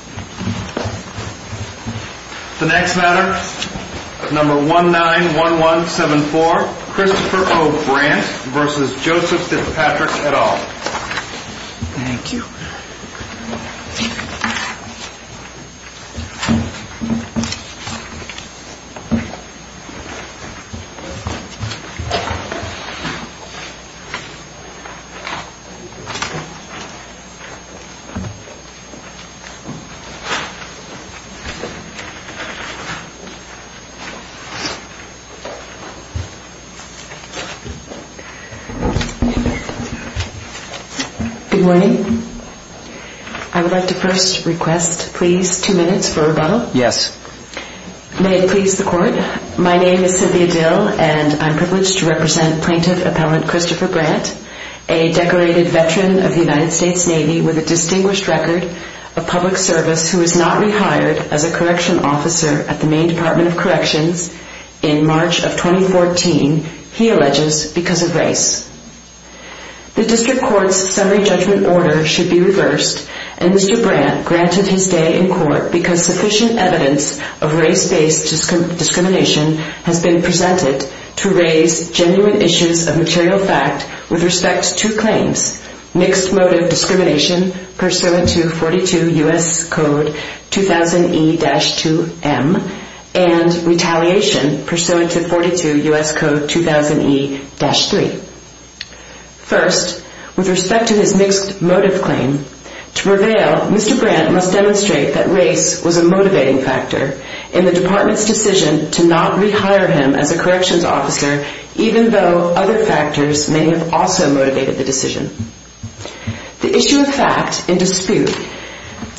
191174 Christopher O. Brandt v. Joseph Fitzpatrick Good morning. I would like to first request, please, two minutes for rebuttal. Yes. May it please the Court, my name is Cynthia Dill and I'm privileged to represent Plaintiff Appellant Christopher Brandt, a decorated veteran of the United States Navy with a distinguished record of public service who was not rehired as a correction officer at the Maine Department of Corrections in March of 2014, he alleges, because of race. The District Court's summary judgment order should be reversed and Mr. Brandt granted his stay in court because sufficient evidence of race-based discrimination has been presented to raise genuine issues of racism pursuant to 42 U.S. Code 2000E-2M and retaliation pursuant to 42 U.S. Code 2000E-3. First, with respect to his mixed motive claim, to prevail, Mr. Brandt must demonstrate that race was a motivating factor in the Department's decision to not rehire him as a corrections officer even though other factors may have also motivated the decision. The issue of fact in dispute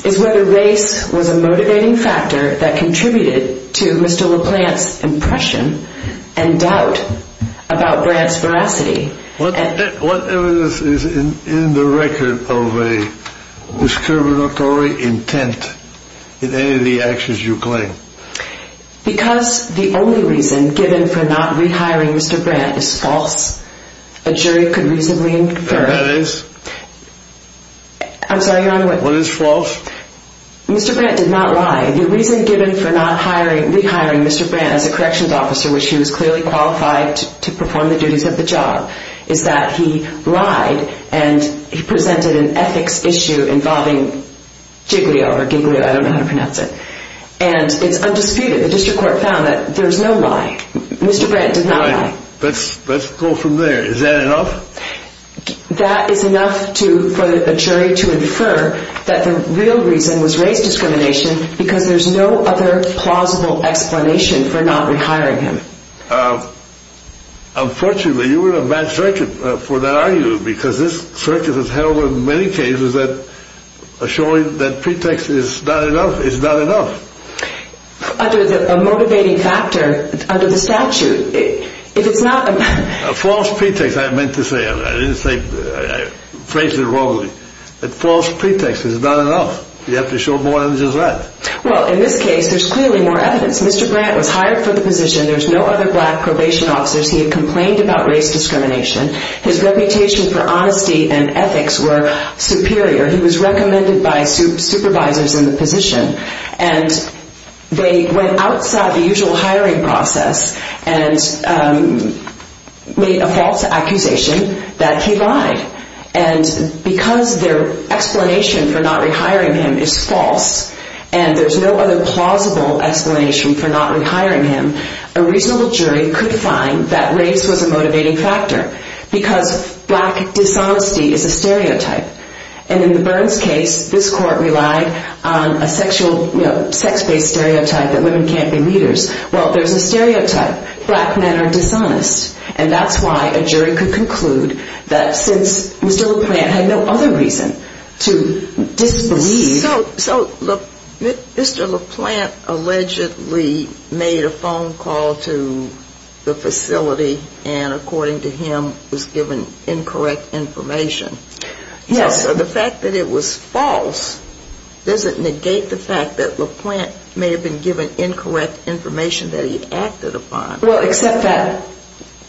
is whether race was a motivating factor that contributed to Mr. LaPlante's impression and doubt about Brandt's veracity. What evidence is in the record of a discriminatory intent in any of the actions you claim? Because the only reason given for not rehiring Mr. Brandt is false, a jury could reasonably infer... And that is? I'm sorry, you're on the way. What is false? Mr. Brandt did not lie. The reason given for not rehiring Mr. Brandt as a corrections officer, which he was clearly qualified to perform the duties of the job, is that he lied and he presented an ethics issue involving Jiglio, or Giglio, I don't know how to say it. It's undisputed. The district court found that there's no lie. Mr. Brandt did not lie. Let's go from there. Is that enough? That is enough for a jury to infer that the real reason was race discrimination because there's no other plausible explanation for not rehiring him. Unfortunately, you're in a bad circuit for that argument because this circuit has held that assuring that pretext is not enough is not enough. Under the motivating factor, under the statute, if it's not... A false pretext, I meant to say. I phrased it wrongly. A false pretext is not enough. You have to show more evidence than that. Well, in this case, there's clearly more evidence. Mr. Brandt was hired for the position. There's no other black probation officers. He had complained about race discrimination. His reputation for honesty and ethics were superior. He was recommended by supervisors in the position. They went outside the usual hiring process and made a false accusation that he lied. Because their explanation for not rehiring him is false and there's no other plausible explanation for not rehiring him, a reasonable jury could find that race was a motivating factor because black dishonesty is a stereotype. And in the Burns case, this court relied on a sexual, you know, sex-based stereotype that women can't be leaders. Well, there's a stereotype. Black men are dishonest. And that's why a jury could conclude that since Mr. LaPlante had no other reason to disbelieve... Yes. So the fact that it was false doesn't negate the fact that LaPlante may have been given incorrect information that he acted upon. Well, except that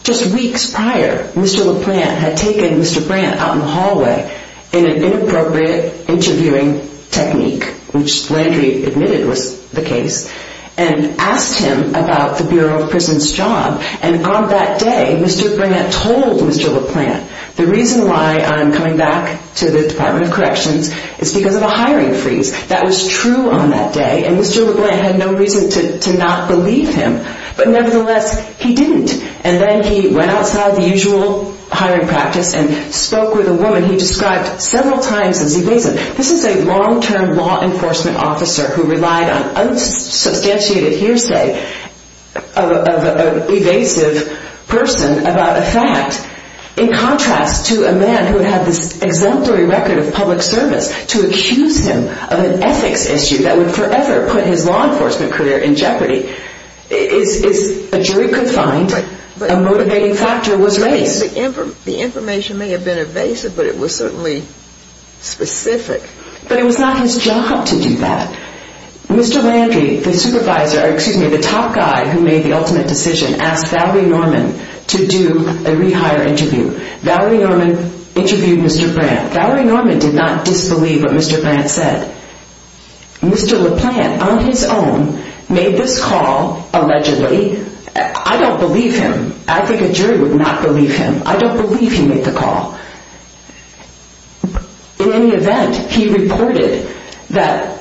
just weeks prior, Mr. LaPlante had taken Mr. Brandt out in the hallway in an inappropriate interviewing technique, which Landry admitted was the case, and asked him about the Bureau of Prison's job. And on that day, Mr. Brandt told Mr. LaPlante, the reason why I'm coming back to the Department of Corrections is because of a hiring freeze. That was true on that day, and Mr. LaPlante had no reason to not believe him. But nevertheless, he didn't. And then he went outside the usual hiring practice and spoke with a woman he described several times as evasive. This is a long-term law enforcement officer who relied on unsubstantiated hearsay of an evasive person about a fact. In contrast to a man who had this exemplary record of public service, to accuse him of an ethics issue that would forever put his law enforcement career in jeopardy is a jury could find a motivating factor was race. The information may have been evasive, but it was certainly specific. But it was not his job to do that. Mr. Landry, the top guy who made the ultimate decision, asked Valerie Norman to do a rehire interview. Valerie Norman interviewed Mr. Brandt. Valerie Norman did not disbelieve what Mr. Brandt said. Mr. LaPlante, on his own, made this call, allegedly. I don't believe him. I think a jury would not believe him. I don't believe he made the call. In any event, he reported that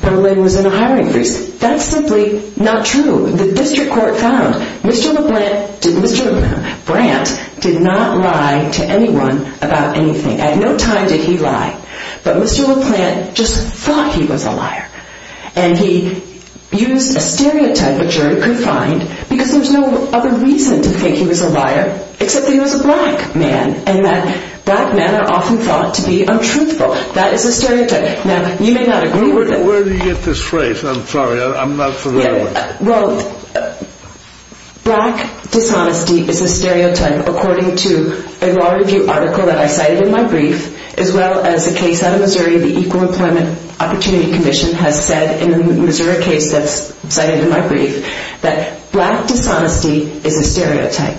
Berlin was in a hiring freeze. That's simply not true. The district court found Mr. LaPlante, Mr. Brandt did not lie to anyone about anything. At no time did he lie. But Mr. LaPlante just thought he was a liar. And he used a stereotype a jury could find because there was no other reason to think he was a liar, except that he was a black man. And that black men are often thought to be untruthful. That is a stereotype. Now, you may not agree with it. Where did you get this phrase? I'm sorry. I'm not familiar with it. Well, black dishonesty is a stereotype, according to a law review article that I cited in my brief, as well as a case out of Missouri, the Equal Employment Opportunity Commission has said in the Missouri case that's cited in my brief, that black dishonesty is a stereotype.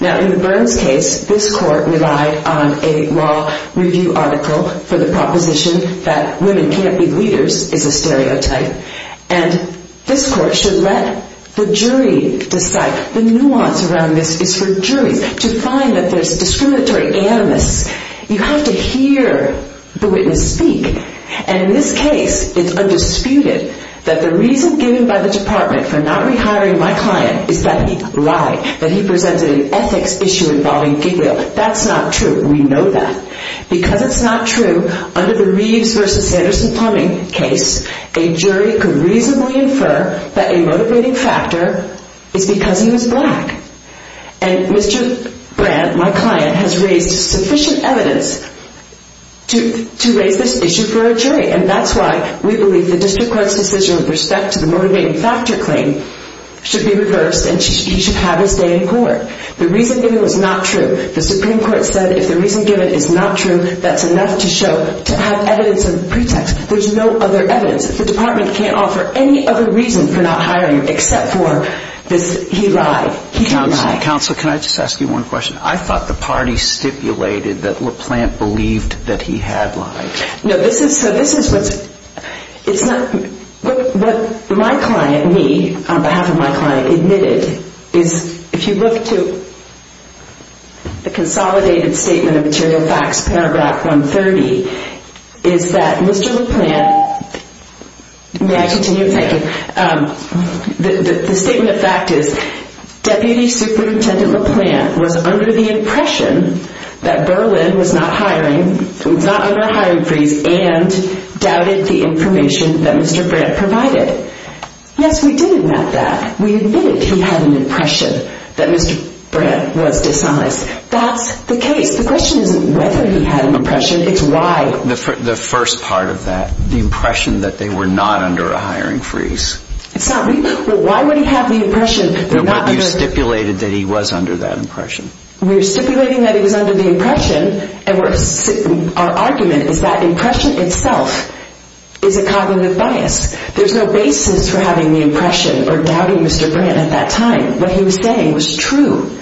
Now, in the Burns case, this court relied on a law review article for the proposition that women can't be leaders is a stereotype. And this court should let the jury decide. The nuance around this is for juries to find that there's discriminatory animus. You have to hear the witness speak. And in this case, it's undisputed that the reason given by the department for not rehiring my client is that he lied, that he presented an ethics issue involving giggle. That's not true. We know that. Because it's not true, under the Reeves versus Sanderson plumbing case, a jury could reasonably infer that a motivating factor is because he was black. And Mr. Brandt, my client, we believe the district court's decision with respect to the motivating factor claim should be reversed and he should have his day in court. The reason given was not true. The Supreme Court said if the reason given is not true, that's enough to show, to have evidence of pretext. There's no other evidence. The department can't offer any other reason for not hiring him except for he lied. He lied. Counsel, counsel, can I just ask you one question? I thought the party stipulated that LaPlante believed that he had lied. No, this is, so this is what's, it's not, what my client, me, on behalf of my client admitted is if you look to the consolidated statement of material facts, paragraph 130, is that Mr. LaPlante, may I continue? Thank you. The statement of fact is Deputy Superintendent LaPlante was under the impression that Berlin was not hiring, was not under a hiring freeze and doubted the information that Mr. Brandt provided. Yes, we did admit that. We admitted he had an impression that Mr. Brandt was dishonest. That's the case. The question isn't whether he had an impression, it's why. The first part of that, the impression that they were not under a hiring freeze. It's not, we, well why would he have the impression that they're not under... No, but you stipulated that he was under that impression. We were stipulating that he was under the impression and we're, our argument is that impression itself is a cognitive bias. There's no basis for having the impression or doubting Mr. Brandt at that time. What he was saying was true.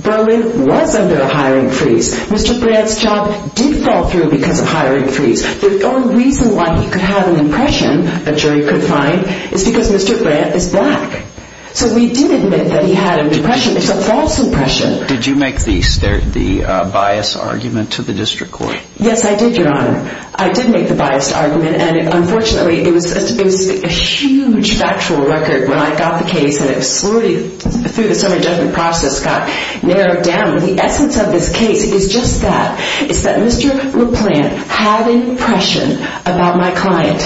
Berlin was under a hiring freeze. Mr. Brandt's job did fall through because of hiring freeze. The only reason why he could have an impression, a jury could find, is because Mr. Brandt is black. So we did admit that he had an impression. It's a false impression. Did you make the bias argument to the district court? Yes, I did, Your Honor. I did make the biased argument and unfortunately it was a huge factual record when I got the case and it slowly, through the summary judgment process, got narrowed down. The essence of this case is just that. It's that Mr. LaPlante had an impression of a client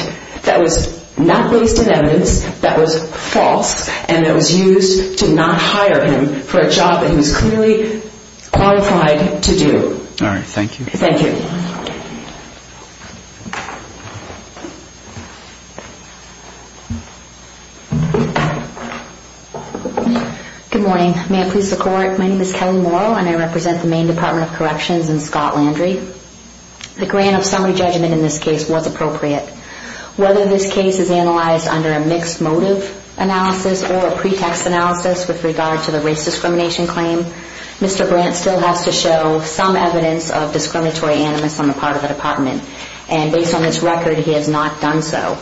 that was not based on evidence, that was false, and that was used to not hire him for a job that he was clearly qualified to do. All right. Thank you. Thank you. Good morning. May I please have the floor? My name is Kelly Morrow and I represent the Maine Department of Corrections in Scott Landry. The grant of summary judgment in this case was appropriate. Whether this case is analyzed under a mixed motive analysis or a pretext analysis with regard to the race discrimination claim, Mr. Brandt still has to show some evidence of discriminatory animus on the part of the department. And based on this record, he has not done so.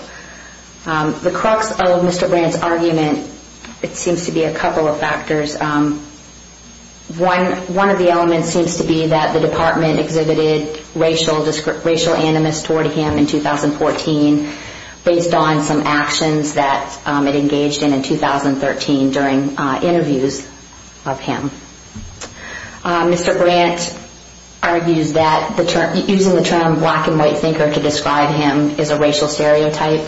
The crux of Mr. Brandt's argument, it seems to be a couple of factors. One of the elements seems to be that the department exhibited racial animus toward him in 2014 based on some actions that it engaged in in 2013 during interviews of him. Mr. Brandt argues that using the term black and white thinker to describe him is a racial stereotype.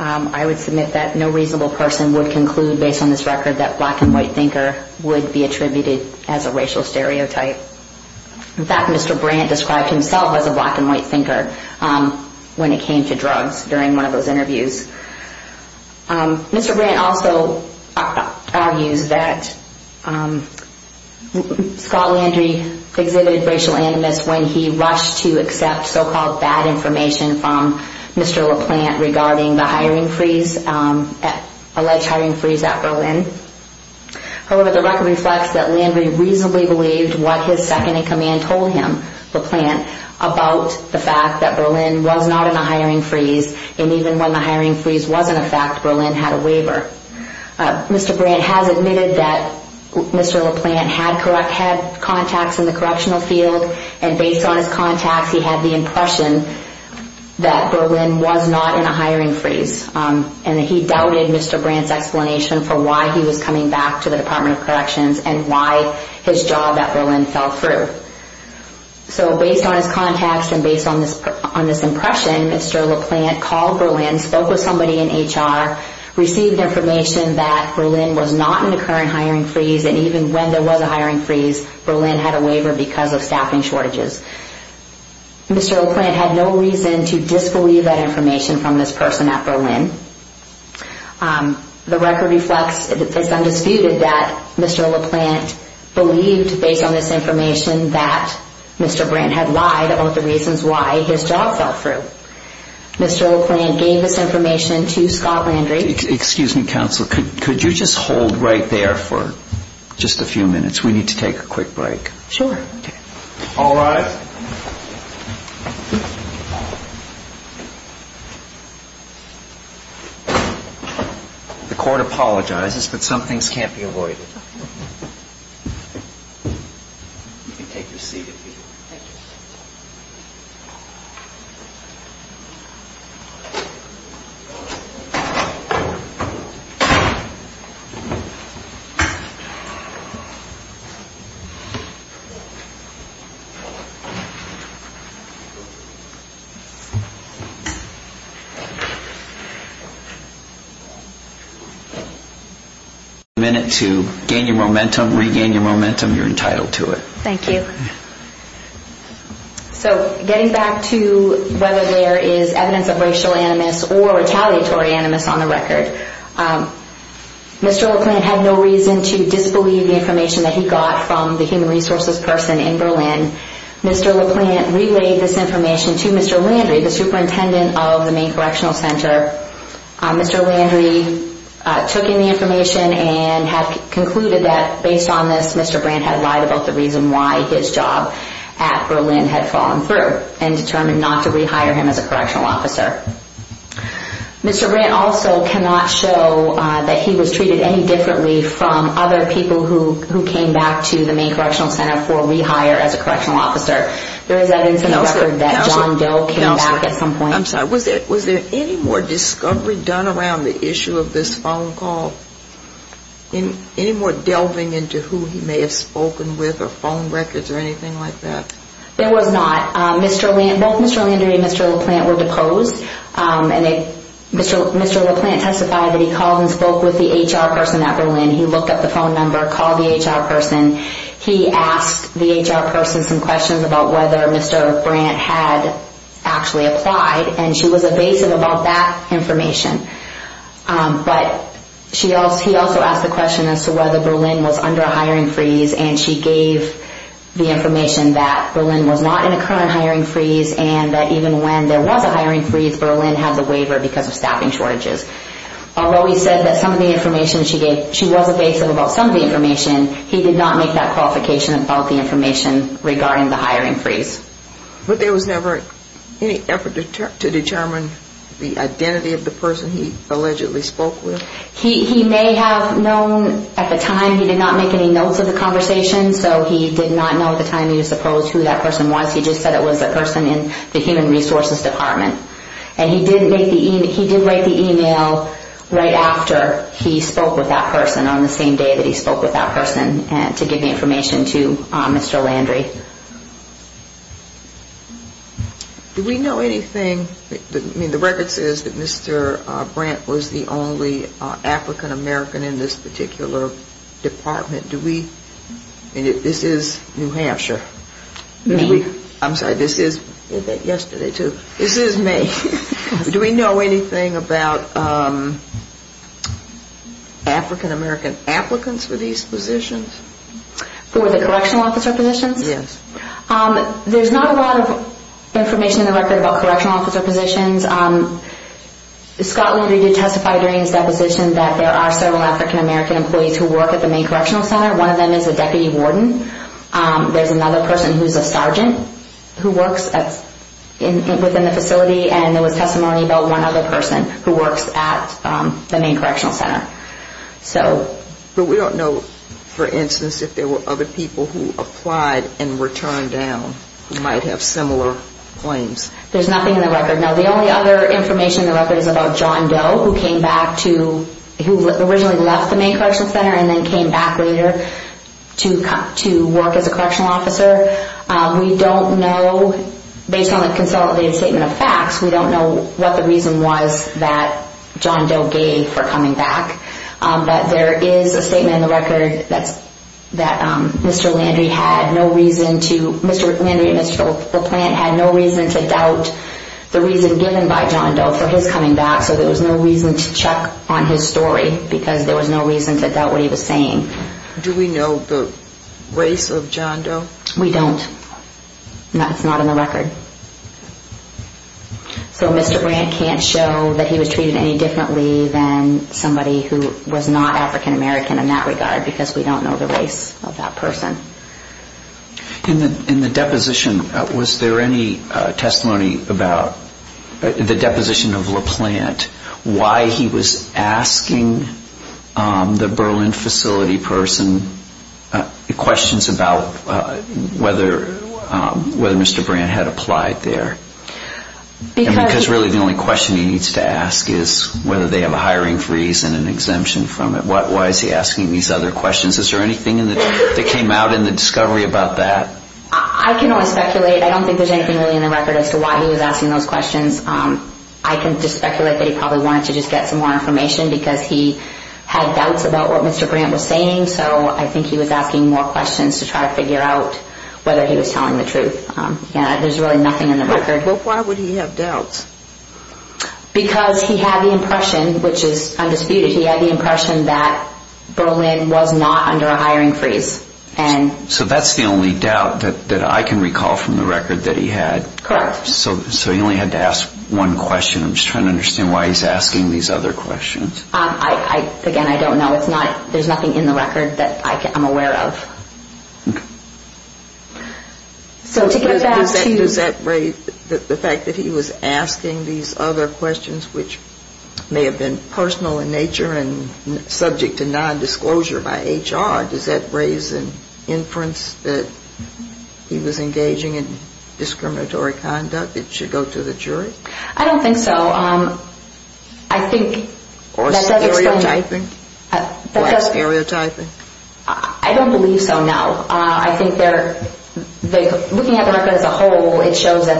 I would submit that no reasonable person would conclude based on this record that black and white thinker would be attributed as a racial stereotype. In fact, Mr. Brandt described himself as a black and white thinker when it came to drugs during one of those interviews. Mr. Brandt also argues that Scott Landry exhibited racial animus when he rushed to accept so-called bad information from Mr. LaPlante regarding the alleged hiring freeze at Berlin. However, the record reflects that Landry reasonably believed what his second-in-command told him, LaPlante, about the fact that Berlin was not in a hiring freeze and even when the hiring freeze wasn't a fact, Berlin had a waiver. Mr. Brandt has admitted that Mr. LaPlante had contacts in the correctional field and based on his contacts, he had the impression that Berlin was not in a hiring freeze and he doubted Mr. Brandt's explanation for why he was coming back to the Department of Corrections and why his job at Berlin fell through. So based on his contacts and based on this impression, Mr. LaPlante called Berlin, spoke with somebody in HR, received information that Berlin was not in a current hiring freeze and even when there was a hiring freeze, Berlin had a waiver because of staffing shortages. Mr. LaPlante had no reason to disbelieve that information from this person at Berlin. The record reflects that it's undisputed that Mr. LaPlante believed based on this information that Mr. Brandt had lied about the reasons why his job fell through. Mr. LaPlante gave this information to Scott Landry. Excuse me, counsel. Could you just hold right there for just a few minutes? We need to take a quick break. Sure. All rise. The court apologizes, but some things can't be avoided. You can take your seat if you want. If you have a minute to gain your momentum, regain your momentum, you're entitled to it. Thank you. So getting back to whether there is evidence of racial animus or retaliatory animus on the Mr. LaPlante had no reason to disbelieve the information that he got from the human resources person in Berlin. Mr. LaPlante relayed this information to Mr. Landry, the superintendent of the main correctional center. Mr. Landry took in the information and had concluded that based on this, Mr. Brandt had lied about the reason why his job at Berlin had fallen through and determined not to rehire him as a correctional officer. Mr. Brandt also cannot show that he was treated any differently from other people who came back to the main correctional center for rehire as a correctional officer. There is evidence in the record that John Doe came back at some point. Was there any more discovery done around the issue of this phone call? Any more delving into who he may have spoken with or phone records or anything like that? There was not. Both Mr. Landry and Mr. LaPlante were deposed and Mr. LaPlante testified that he called and spoke with the HR person at Berlin. He looked up the phone number, called the HR person. He asked the HR person some questions about whether Mr. Brandt had actually applied and she was evasive about that information. But he also asked the question as to whether Berlin was under a hiring freeze and she gave the information that Berlin was not in a current hiring freeze and that even when there was a hiring freeze, Berlin had the waiver because of staffing shortages. Although he said that some of the information she gave, she was evasive about some of the information, he did not make that qualification about the information regarding the hiring freeze. But there was never any effort to determine the identity of the person he allegedly spoke with? He may have known at the time. He did not make any notes of the conversation, so he did not know at the time he was deposed who that person was. He just said it was a person in the Human Resources Department. And he did write the email right after he spoke with that person on the same day that he spoke with that person to give the information to Mr. Landry. Do we know anything, I mean the record says that Mr. Brandt was the only African American in this particular department. This is New Hampshire. I'm sorry, this is yesterday too. This is May. Do we know anything about African American applicants for these positions? For the correctional officer positions? Yes. There's not a lot of information in the record about correctional officer positions. Scott One of them is a deputy warden. There's another person who's a sergeant who works within the facility and there was testimony about one other person who works at the main correctional center. But we don't know, for instance, if there were other people who applied and were turned down who might have similar claims. There's nothing in the record. Now the only other information in the record is about John Doe who came back to, who originally left the main correctional center and then came back later to work as a correctional officer. We don't know, based on the consolidated statement of facts, we don't know what the reason was that John Doe gave for coming back. But there is a statement in the record that Mr. Landry had no reason to, Mr. Landry and Mr. LaPlante had no reason to doubt the reason given by John Doe for his coming back so there was no reason to check on his story because there was no reason to doubt what he was saying. Do we know the race of John Doe? We don't. That's not in the record. So Mr. Brandt can't show that he was treated any differently than somebody who was not African American in that regard because we don't know the race of that person. In the deposition, was there any testimony about the deposition of LaPlante, why he was asking the Berlin facility person questions about whether Mr. Brandt had applied there? Because really the only question he needs to ask is whether they have a hiring freeze and an exemption from it. Why is he asking these other questions? Is there anything that came out in the discovery about that? I can only speculate. I don't think there is anything really in the record as to why he was asking those questions. I can just speculate that he probably wanted to just get some more information because he had doubts about what Mr. Brandt was saying so I think he was asking more questions to try to figure out whether he was telling the truth. There is really nothing in the record. Why would he have doubts? Because he had the impression, which is undisputed, he had the impression that Berlin was not under a hiring freeze. So that's the only doubt that I can recall from the record that he had? Correct. So he only had to ask one question. I'm just trying to understand why he's asking these other questions. Again, I don't know. There's nothing in the record that I'm aware of. Does that raise the fact that he was asking these other questions which may have been personal in nature and subject to nondisclosure by HR? Does that raise an inference that he was engaging in discriminatory conduct that should go to the jury? I don't think so. I think that does explain... Or stereotyping? Black stereotyping? I don't believe so, no. I think looking at the record as a whole, it shows that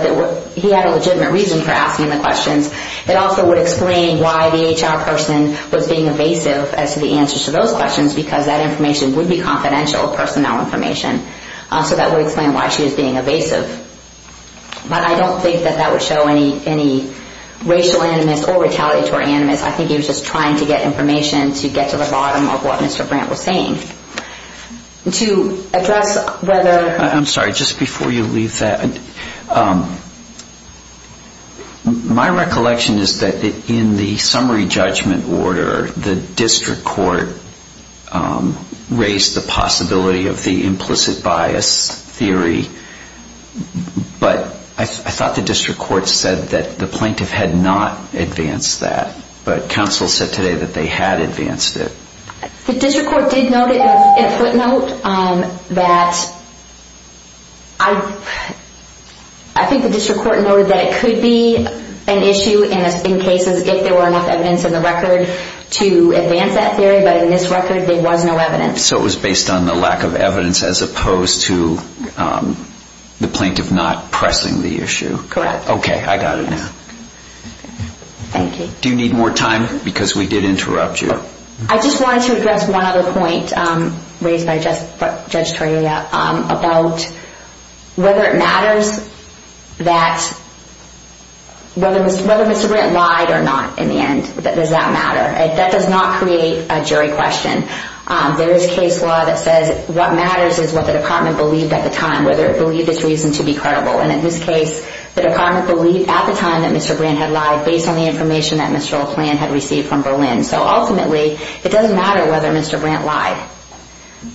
he had legitimate reason for asking the questions. It also would explain why the HR person was being evasive as to the answers to those questions because that information would be confidential personnel information. So that would explain why she was being evasive. But I don't think that that would show any racial animus or retaliatory animus. I think he was just trying to get information to get to the bottom of what Mr. Brandt was saying. To address whether... I'm sorry, just before you leave that... My recollection is that in the summary judgment order, the district court raised the possibility of the implicit bias theory, but I thought the district court said that the plaintiff had not advanced that, but counsel said today that they had advanced it. The district court did note it in a footnote that... I think the district court noted that it could be an issue in cases if there were enough evidence in the record to advance that theory, but in this record there was no evidence. So it was based on the lack of evidence as opposed to the plaintiff not pressing the issue. Correct. Okay, I got it now. Thank you. Do you need more time? Because we did interrupt you. I just wanted to address one other point raised by Judge Toria about whether it matters that... Whether Mr. Brandt lied or not in the end, does that matter? That does not create a jury question. There is case law that says what matters is what the department believed at the time, whether it believed its reason to be credible. In this case, the department believed at the time that Mr. Brandt had lied based on the So ultimately, it doesn't matter whether Mr. Brandt lied.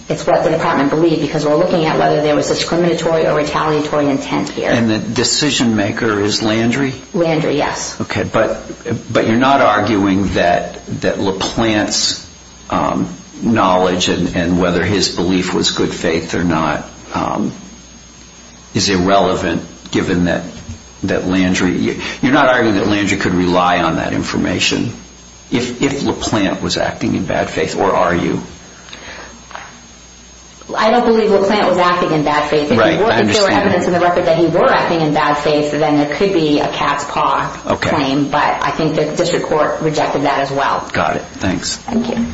It's what the department believed because we're looking at whether there was discriminatory or retaliatory intent here. And the decision maker is Landry? Landry, yes. Okay, but you're not arguing that LaPlante's knowledge and whether his belief was good faith is irrelevant given that Landry... You're not arguing that Landry could rely on that information if LaPlante was acting in bad faith? Or are you? I don't believe LaPlante was acting in bad faith. If there were evidence in the record that he were acting in bad faith, then it could be a cat's paw claim, but I think the district court rejected that as well. Got it. Thanks. Thank you.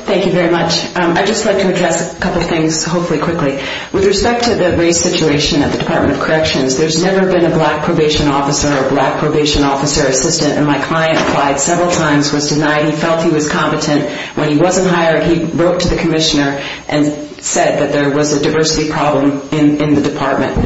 Thank you very much. I'd just like to address a couple of things, hopefully quickly. With respect to the race situation at the Department of Corrections, there's never been a black probation officer or a black probation officer assistant, and my client applied several times, was denied. He felt he was competent. When he wasn't hired, he wrote to the commissioner and said that there was a diversity problem in the department.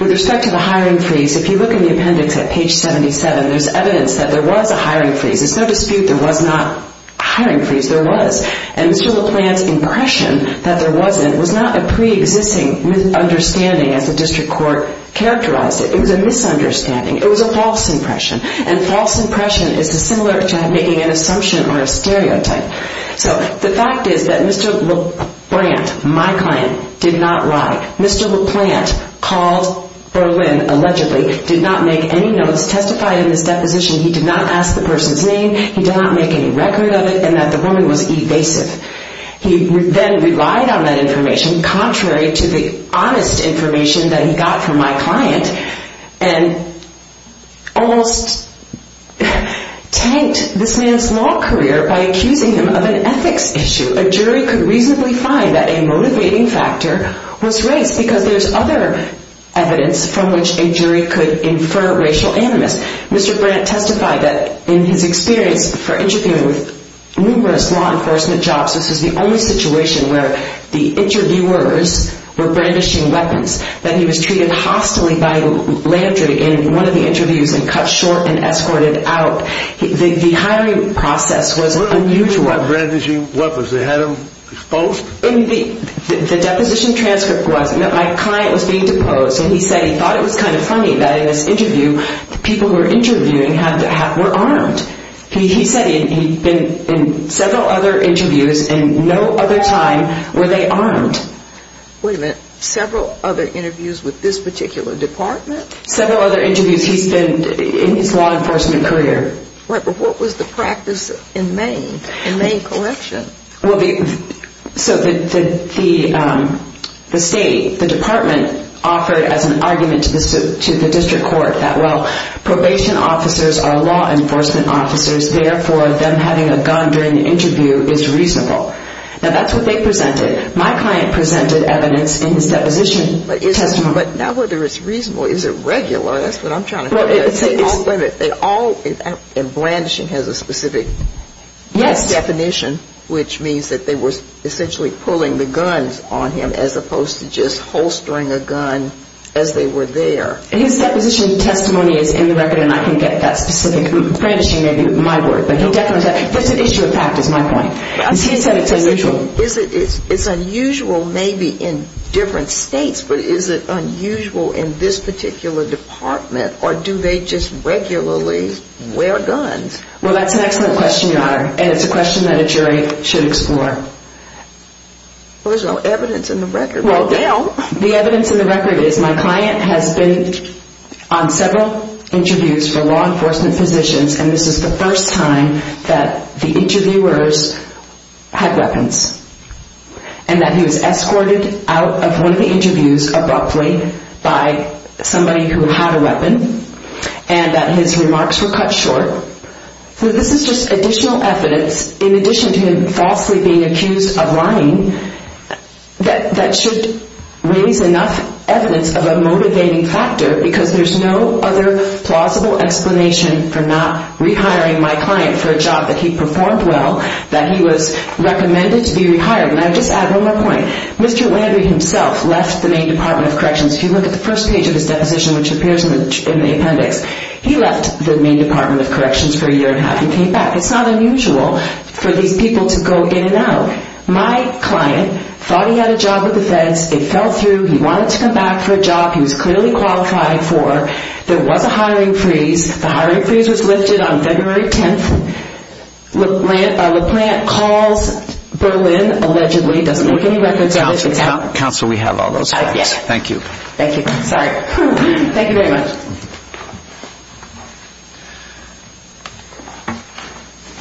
With respect to the hiring freeze, if you look in the appendix at page 77, there's evidence that there was a hiring freeze. There's no dispute there was not a hiring freeze. There was. And Mr. LaPlante's impression that there wasn't was not a preexisting understanding, as the district court characterized it. It was a misunderstanding. It was a false impression. And false impression is similar to making an assumption or a stereotype. So the fact is that Mr. LaPlante, my client, did not lie. Mr. LaPlante called Berlin, allegedly, did not make any notes, testified in this deposition. He did not ask the person's name. He did not make any record of it, and that the woman was evasive. He then relied on that information, contrary to the honest information that he got from my client, and almost tanked this man's law career by accusing him of an ethics issue. A jury could reasonably find that a motivating factor was race, because there's other evidence from which a jury could infer racial animus. Mr. Brandt testified that in his experience for interviewing with numerous law enforcement jobs, this was the only situation where the interviewers were brandishing weapons, that he was treated hostily by Landry in one of the interviews and cut short and escorted out. The hiring process was unusual. What do you mean by brandishing weapons? They had him exposed? The deposition transcript was that my client was being deposed, and he said he thought it was kind of funny that in this interview, the people who were interviewing were armed. He said in several other interviews and no other time were they armed. Wait a minute. Several other interviews with this particular department? Several other interviews. He's been in his law enforcement career. What was the practice in Maine, in Maine collection? So the state, the department, offered as an argument to the district court that, well, probation officers are law enforcement officers, therefore them having a gun during the interview is reasonable. Now, that's what they presented. My client presented evidence in his deposition testimony. But now whether it's reasonable, is it regular? That's what I'm trying to figure out. And brandishing has a specific definition, which means that they were essentially pulling the guns on him, as opposed to just holstering a gun as they were there. His deposition testimony is in the record, and I can get that specific. Brandishing may be my word. That's an issue of fact, is my point. It's unusual maybe in different states, but is it unusual in this particular department, or do they just regularly wear guns? Well, that's an excellent question, Your Honor, and it's a question that a jury should explore. Well, there's no evidence in the record right now. The evidence in the record is my client has been on several interviews for law enforcement positions, and this is the first time that the interviewers had weapons, and that he was escorted out of one of the interviews, which was abruptly, by somebody who had a weapon, and that his remarks were cut short. So this is just additional evidence, in addition to him falsely being accused of lying, that should raise enough evidence of a motivating factor, because there's no other plausible explanation for not rehiring my client for a job that he performed well, that he was recommended to be rehired. And I'll just add one more point. Mr. Landry himself left the Maine Department of Corrections. If you look at the first page of his deposition, which appears in the appendix, he left the Maine Department of Corrections for a year and a half, and came back. It's not unusual for these people to go in and out. My client thought he had a job with the feds. It fell through. He wanted to come back for a job he was clearly qualified for. There was a hiring freeze. The hiring freeze was lifted on February 10th. LaPlante calls Berlin, allegedly. Counsel, we have all those facts. Thank you. Thank you. Sorry. Thank you very much.